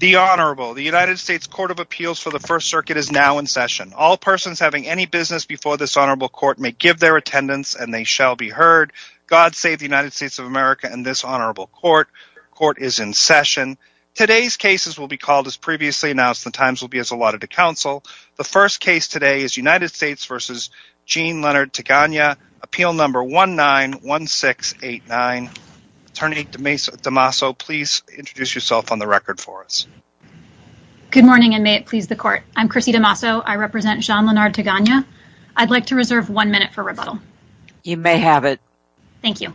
The Honorable, the United States Court of Appeals for the First Circuit is now in session. All persons having any business before this Honorable Court may give their attendance, and they shall be heard. God save the United States of America and this Honorable Court. Court is in session. Today's cases will be called as previously announced. The times will be as allotted to counsel. The first case today is United States v. Gene Leonard Teganya, Appeal No. 191689. Attorney DeMasso, please introduce yourself on the record for us. Good morning, and may it please the Court. I'm Chrissy DeMasso. I represent Jean Leonard Teganya. I'd like to reserve one minute for rebuttal. You may have it. Thank you.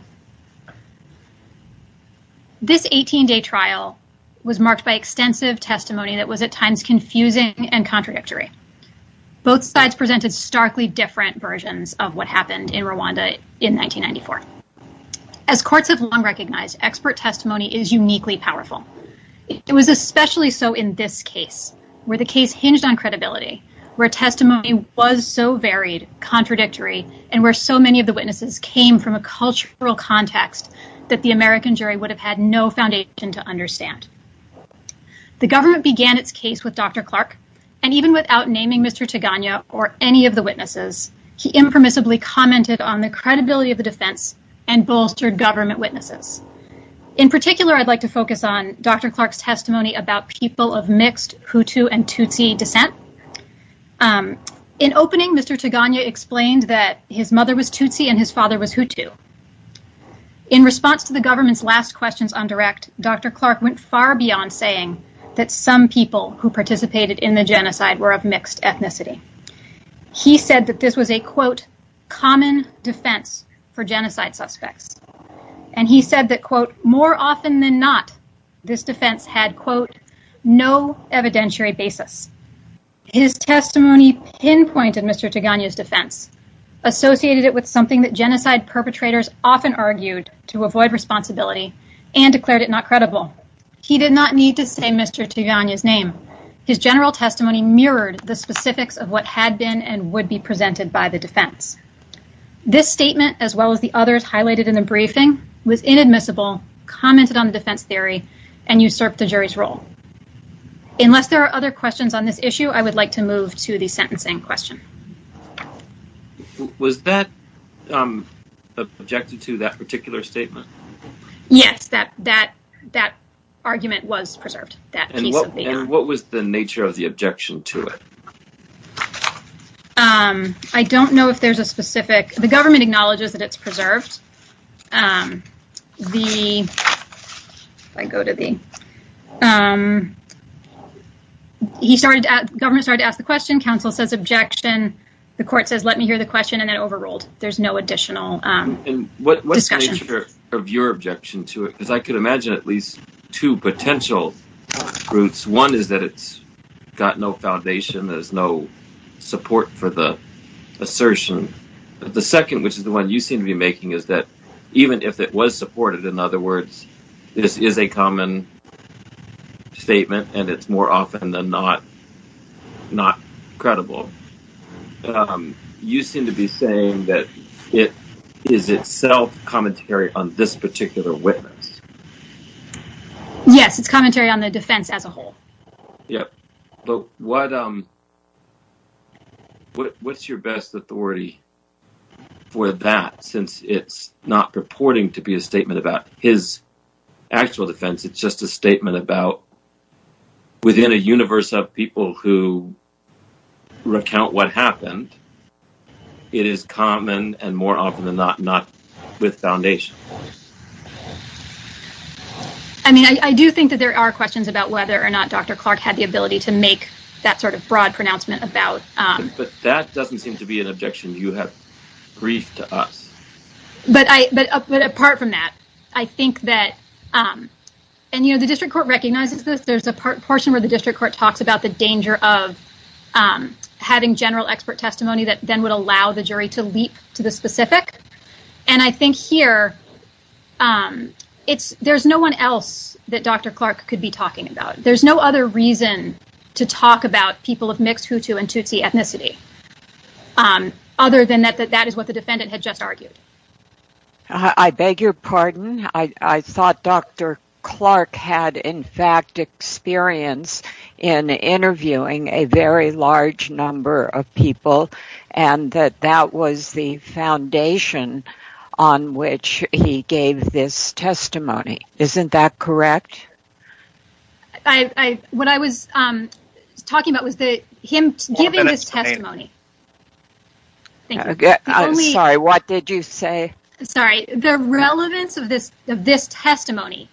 This 18-day trial was marked by extensive testimony that was at times confusing and in Rwanda in 1994. As courts have long recognized, expert testimony is uniquely powerful. It was especially so in this case, where the case hinged on credibility, where testimony was so varied, contradictory, and where so many of the witnesses came from a cultural context that the American jury would have had no foundation to understand. The government began its case with Dr. Clark, and even without naming Mr. Teganya or any of the witnesses, he impermissibly commented on the credibility of the defense and bolstered government witnesses. In particular, I'd like to focus on Dr. Clark's testimony about people of mixed Hutu and Tutsi descent. In opening, Mr. Teganya explained that his mother was Tutsi and his father was Hutu. In response to the government's last questions on direct, Dr. Clark went far beyond saying that some people who participated in the genocide were of mixed ethnicity. He said that this was a, quote, common defense for genocide suspects, and he said that, quote, more often than not, this defense had, quote, no evidentiary basis. His testimony pinpointed Mr. Teganya's defense, associated it with something that genocide perpetrators often argued to avoid responsibility and declared it not credible. He did not need to say Mr. Teganya's name. His general testimony mirrored the specifics of what had been and would be presented by the defense. This statement, as well as the others highlighted in the briefing, was inadmissible, commented on the defense theory, and usurped the jury's role. Unless there are other questions on this issue, I would like to move to the sentencing question. Was that objected to, that particular statement? Yes, that argument was preserved. And what was the nature of the objection to it? I don't know if there's a specific, the government acknowledges that it's preserved. The, if I go to the, he started, the government started to ask the question, counsel says objection, the court says let me hear the question, and then overruled. There's no additional discussion. And what's the nature of your objection to it? Because I could imagine at least two potential routes. One is that it's got no foundation, there's no support for the even if it was supported, in other words, this is a common statement, and it's more often than not, not credible. You seem to be saying that it is itself commentary on this particular witness. Yes, it's commentary on the defense as a whole. Yep. But what, what's your best authority for that since it's not purporting to be a statement about his actual defense, it's just a statement about within a universe of people who recount what happened. It is common and more often than not, not with foundation. I mean, I do think that there are questions about whether or not Dr. Clark had the ability to make that sort of broad pronouncement about. But that doesn't seem to be an objection. You have grief to us. But I, but apart from that, I think that, and you know, the district court recognizes this, there's a part portion where the district court talks about the danger of having general expert testimony that then would allow the jury to leap to the specific. And I think here it's, there's no one else that Dr. Clark could be talking about. There's no other reason to talk about people of mixed Hutu and Tutsi ethnicity, other than that, that that is what the defendant had just argued. I beg your pardon. I thought Dr. Clark had in fact experience in interviewing a very large number of people. He had a foundation on which he gave this testimony. Isn't that correct? I, what I was talking about was the, him giving this testimony. Sorry, what did you say? Sorry, the relevance of this, of this testimony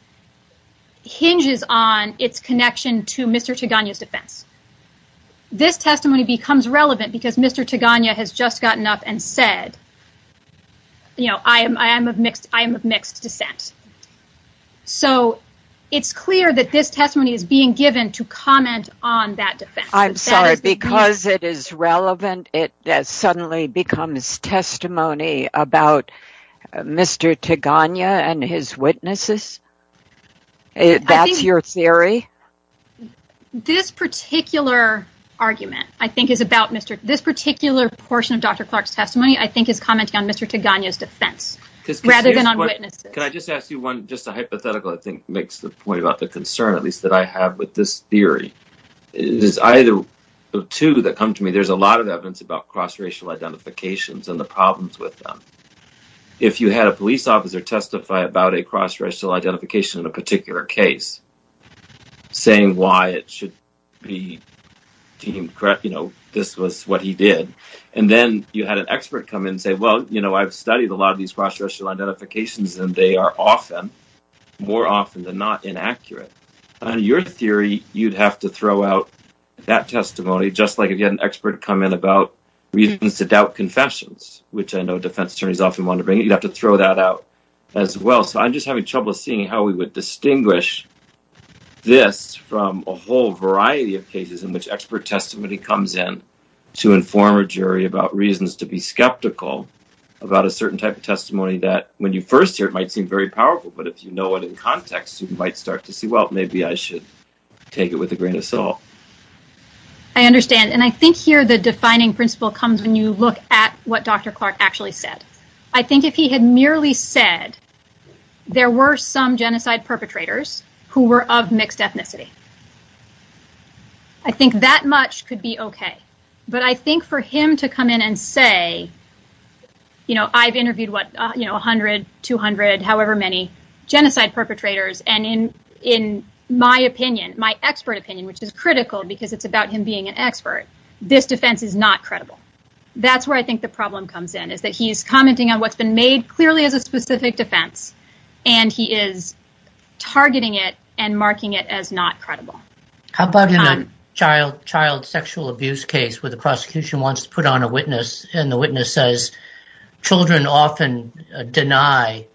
hinges on its connection to Mr. Tigana's defense. This testimony becomes relevant because Mr. Tigana has just gotten up and said, you know, I am, I am of mixed, I am of mixed descent. So it's clear that this testimony is being given to comment on that defense. I'm sorry, because it is relevant, it suddenly becomes testimony about Mr. Tigana and his witnesses? That's your theory? This particular argument, I think, is about Mr., this particular portion of Dr. Clark's testimony, I think, is commenting on Mr. Tigana's defense, rather than on witnesses. Can I just ask you one, just a hypothetical, I think, makes the point about the concern, at least that I have with this theory. It is either of two that come to me. There's a lot of evidence about cross-racial identifications and the problems with them. If you had a police saying why it should be deemed correct, you know, this was what he did, and then you had an expert come in and say, well, you know, I've studied a lot of these cross-racial identifications and they are often, more often than not, inaccurate. On your theory, you'd have to throw out that testimony, just like if you had an expert come in about reasons to doubt confessions, which I know defense attorneys often want to bring, you'd have to throw that out as well. So I'm just having trouble seeing how we would distinguish this from a whole variety of cases in which expert testimony comes in to inform a jury about reasons to be skeptical about a certain type of testimony that, when you first hear it, might seem very powerful, but if you know it in context, you might start to see, well, maybe I should take it with a grain of salt. I understand, and I think here the defining principle comes when you look at what Dr. Clark actually said. I think if he had merely said there were some genocide perpetrators who were of mixed ethnicity, I think that much could be okay, but I think for him to come in and say, you know, I've interviewed, what, you know, 100, 200, however many genocide perpetrators, and in my opinion, my expert opinion, which is critical because it's about him being an expert, this defense is not credible. That's where I think the problem comes in, is that he's and he is targeting it and marking it as not credible. How about in a child sexual abuse case where the prosecution wants to put on a witness, and the witness says, children often deny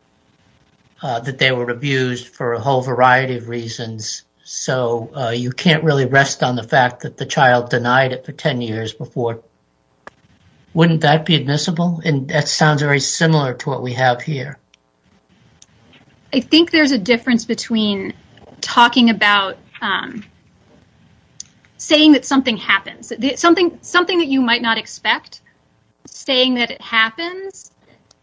that they were abused for a whole variety of reasons, so you can't really rest on the fact that the child denied it for 10 years before. Wouldn't that be admissible? And that sounds very similar to what we have here. I think there's a difference between talking about saying that something happens, something that you might not expect, saying that it happens,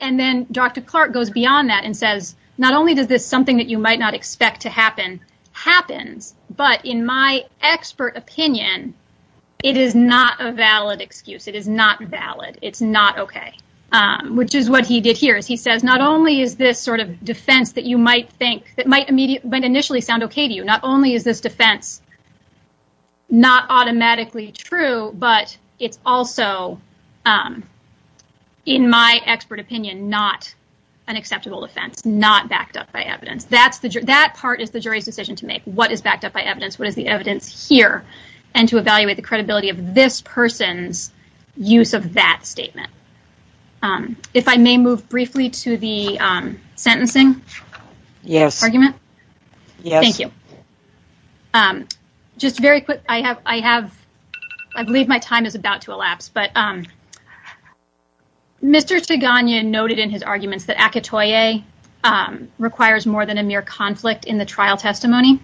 and then Dr. Clark goes beyond that and says, not only does this something that you might not expect to happen, happens, but in my expert opinion, it is not a valid excuse. It is not defense that might initially sound okay to you. Not only is this defense not automatically true, but it's also, in my expert opinion, not an acceptable defense, not backed up by evidence. That part is the jury's decision to make. What is backed up by evidence? What is the evidence here? And to evaluate the credibility of this person's use of that statement. If I may move briefly to the sentencing argument. Yes. Yes. Thank you. Just very quick, I believe my time is about to elapse, but Mr. Teganya noted in his arguments that Akatoye requires more than a mere conflict in the trial testimony,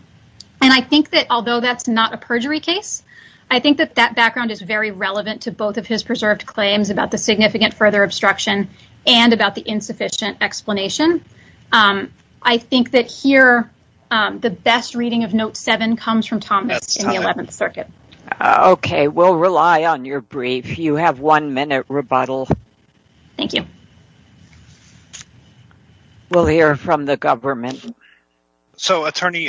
and I think that although that's not a perjury case, I think that that background is very relevant to both of his preserved claims about the significant further obstruction and about the insufficient explanation. I think that here, the best reading of note seven comes from Thomas in the 11th Circuit. Okay. We'll rely on your brief. You have one minute rebuttal. Thank you. We'll hear from the government. So, Attorney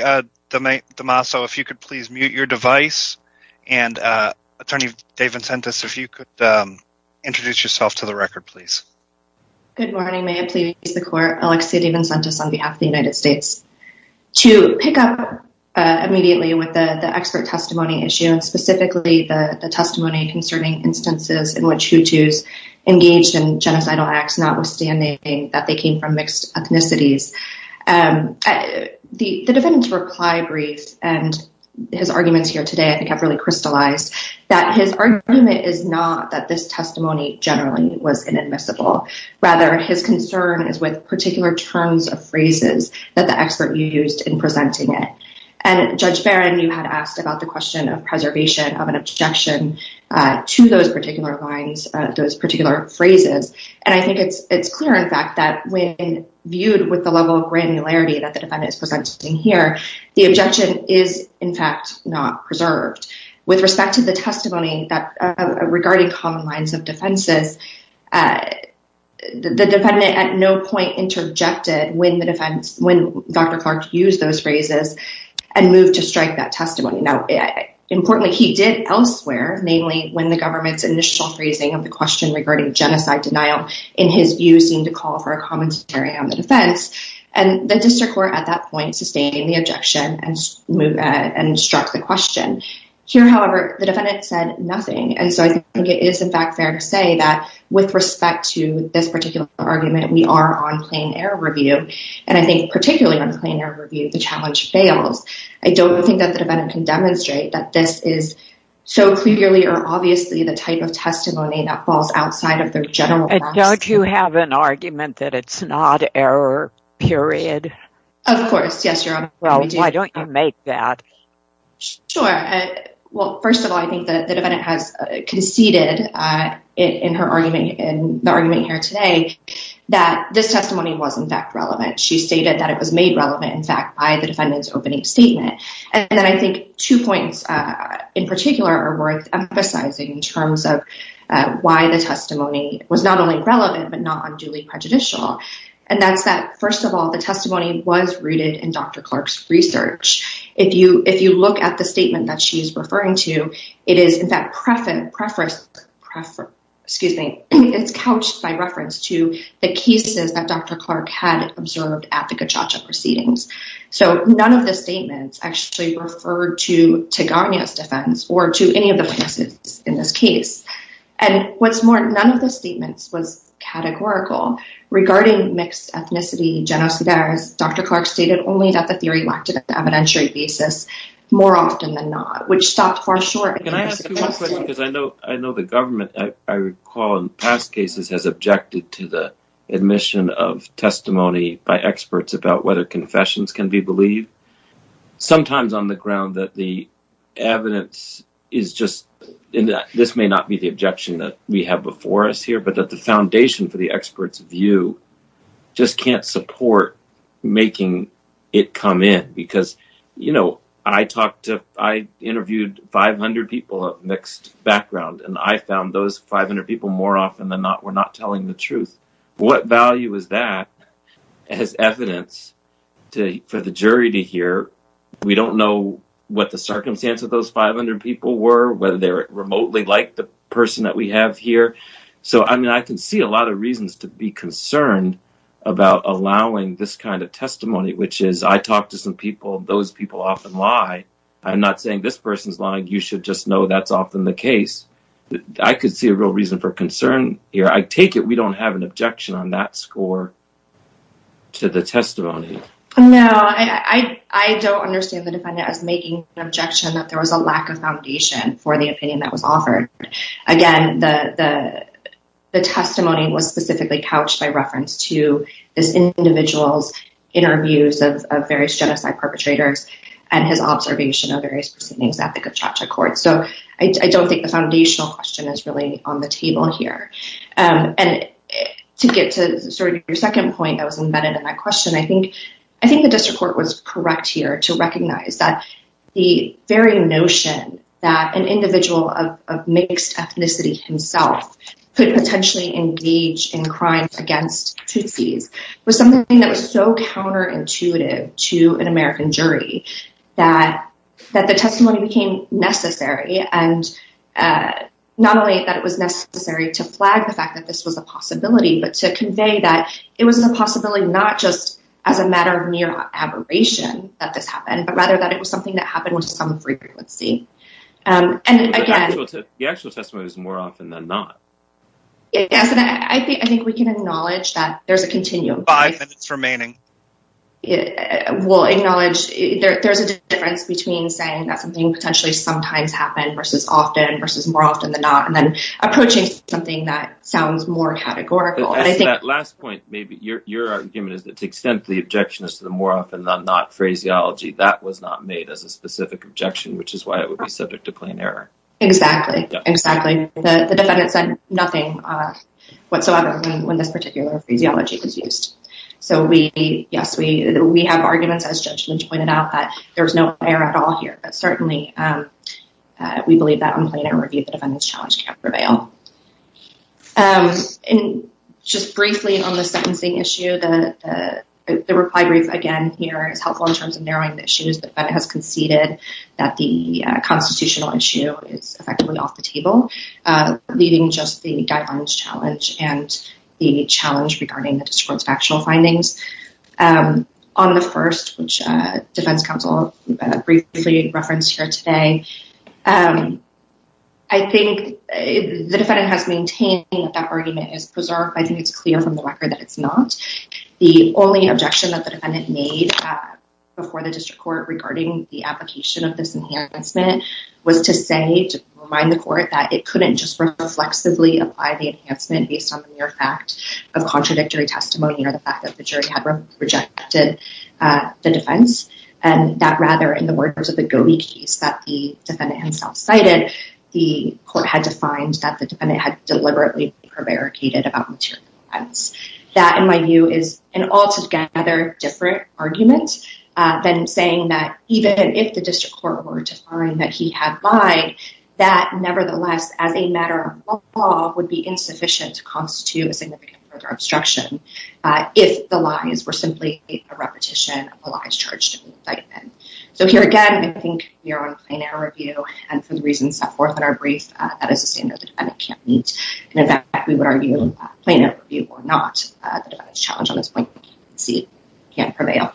DeMasso, if you could please mute your device. And Attorney DeVincentis, if you could introduce yourself to the record, please. Good morning. May it please the court. Alexia DeVincentis on behalf of the United States. To pick up immediately with the expert testimony issue, and specifically the testimony concerning instances in which Hutus engaged in genocidal acts, notwithstanding that they came from mixed ethnicities, the defendant's reply brief and his arguments here today, I think, have really crystallized that his argument is not that this testimony generally was inadmissible. Rather, his concern is with particular terms of phrases that the expert used in presenting it. And Judge Barron, you had asked about the question of preservation of an objection to those particular lines, those particular phrases. And I think it's clear, in fact, that when viewed with the level of granularity that the defendant is presenting here, the objection is, in fact, not preserved. With respect to the testimony regarding common lines of defenses, the defendant at no point interjected when Dr. Clark used those phrases and moved to strike that testimony. Now, importantly, he did elsewhere, namely when the government's initial phrasing of the question regarding genocide denial in his view seemed to call for a commentary on the defense. And the district court at that point sustained the objection and struck the question. Here, however, the defendant said nothing. And so I think it is, in fact, fair to say that with respect to this particular argument, we are on plain air review. And I think particularly on plain air review, the challenge fails. I don't think that the defendant can demonstrate that this is so clearly or obviously the type of testimony that falls outside of their general practice. And don't you have an argument that it's not error, period? Of course, yes, Your Honor. Well, why don't you make that? Sure. Well, first of all, I think that the defendant has conceded in her argument, in the argument here today, that this testimony was, in fact, relevant. She stated that it was made relevant, in fact, by the defendant's opening statement. And then I think two points in particular are worth emphasizing in terms of why the testimony was not only relevant, but not unduly prejudicial. And that's that, first of all, the testimony was rooted in Dr. Clark's research. If you look at the statement that she is referring to, it is, in fact, it's couched by reference to the cases that Dr. Clark had observed at the Kachacha proceedings. So, none of the statements actually referred to Tegaña's defense or to any of the cases in this case. And what's more, none of the statements was categorical regarding mixed ethnicity genocides. Dr. Clark stated only that the theory lacked an evidentiary basis, more often than not, which stopped far short. Can I ask you one question? Because I know the government, I recall in past cases, has objected to the admission of testimony by experts about confessions can be believed. Sometimes on the ground that the evidence is just, this may not be the objection that we have before us here, but that the foundation for the expert's view just can't support making it come in. Because, you know, I talked to, I interviewed 500 people of mixed background, and I found those 500 people, more often than not, not telling the truth. What value is that as evidence for the jury to hear? We don't know what the circumstance of those 500 people were, whether they were remotely like the person that we have here. So, I mean, I can see a lot of reasons to be concerned about allowing this kind of testimony, which is, I talked to some people, those people often lie. I'm not saying this person's lying, you should just know that's often the case. I could see a real reason for taking it. We don't have an objection on that score to the testimony. No, I don't understand the defendant as making an objection that there was a lack of foundation for the opinion that was offered. Again, the testimony was specifically couched by reference to this individual's interviews of various genocide perpetrators and his observation of various proceedings at the time. To get to sort of your second point that was embedded in that question, I think the district court was correct here to recognize that the very notion that an individual of mixed ethnicity himself could potentially engage in crimes against Tutsis was something that was so counterintuitive to an American jury that the testimony became necessary, and not only that it was necessary to flag the fact that this was a possibility, but to convey that it was a possibility not just as a matter of mere aberration that this happened, but rather that it was something that happened with some frequency. The actual testimony was more often than not. Yes, and I think we can acknowledge that there's a continuum. Five minutes remaining. We'll acknowledge there's a difference between saying that something potentially sometimes versus often versus more often than not, and then approaching something that sounds more categorical. That last point, maybe your argument is that the extent of the objection is to the more often than not phraseology. That was not made as a specific objection, which is why it would be subject to plain error. Exactly. The defendant said nothing whatsoever when this particular phraseology was used. Yes, we have arguments, as Judge Lynch pointed out, that there was no error at all here, but certainly we believe that on plain error review the defendant's challenge can prevail. Just briefly on the sentencing issue, the reply brief again here is helpful in terms of narrowing the issues. The defendant has conceded that the constitutional issue is effectively off the table, leaving just the guidelines challenge and the challenge regarding the district court's factual findings. On the first, which defense counsel briefly referenced here today, I think the defendant has maintained that that argument is preserved. I think it's clear from the record that it's not. The only objection that the defendant made before the district court regarding the application of this enhancement was to say, to remind the court, that it couldn't just reflexively apply the enhancement based on the testimony or the fact that the jury had rejected the defense, and that rather in the words of the Gobi case that the defendant himself cited, the court had defined that the defendant had deliberately prevaricated about material evidence. That, in my view, is an altogether different argument than saying that even if the district court were to find that he had lied, that if the lies were simply a repetition of the lies charged in the indictment. So here again, I think we are on plain error review, and for the reasons set forth in our brief, that is to say that the defendant can't meet. In fact, we would argue plain error review or not. The defendant's challenge on this point, as you can see, can't prevail.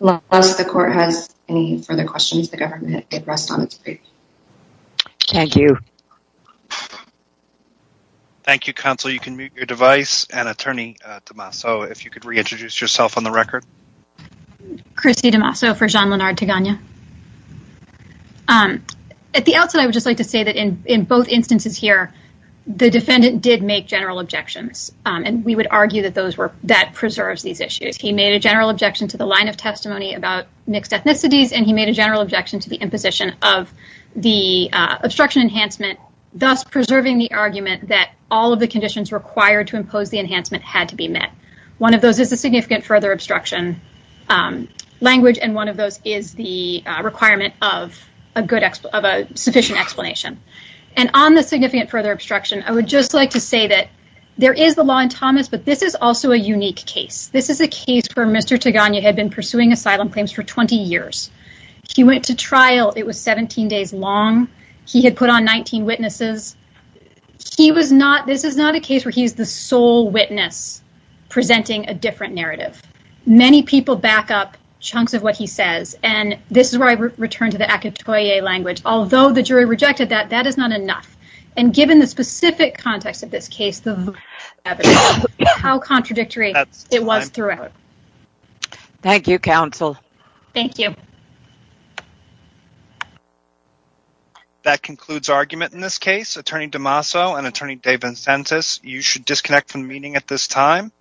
Unless the court has any further questions, it rests on its brief. Thank you. Thank you, counsel. You can mute your device, and attorney DeMasso, if you could reintroduce yourself on the record. Christy DeMasso for Jean-Lenard Tigana. At the outset, I would just like to say that in both instances here, the defendant did make general objections, and we would argue that that preserves these issues. He made a general objection to the line of testimony about mixed ethnicities, and he made a general objection to the imposition of the obstruction enhancement, thus preserving the argument that all of the conditions required to impose the enhancement had to be met. One of those is a significant further obstruction language, and one of those is the requirement of a sufficient explanation. And on the significant further obstruction, I would just like to say that there is the law in Thomas, but this is also a unique case. This is a case where Mr. Tigana had been pursuing asylum claims for 20 years. He went to trial. It was 17 days long. He had put on 19 witnesses. He was not, this is not a case where he's the sole witness presenting a different narrative. Many people back up chunks of what he says, and this is where I return to the acatoye language. Although the jury rejected that, that is not enough. And given the specific context of this case, the evidence, how contradictory it was throughout. Thank you, counsel. Thank you. That concludes argument in this case. Attorney DeMaso and Attorney DeVincentis, you should disconnect from the meeting at this time.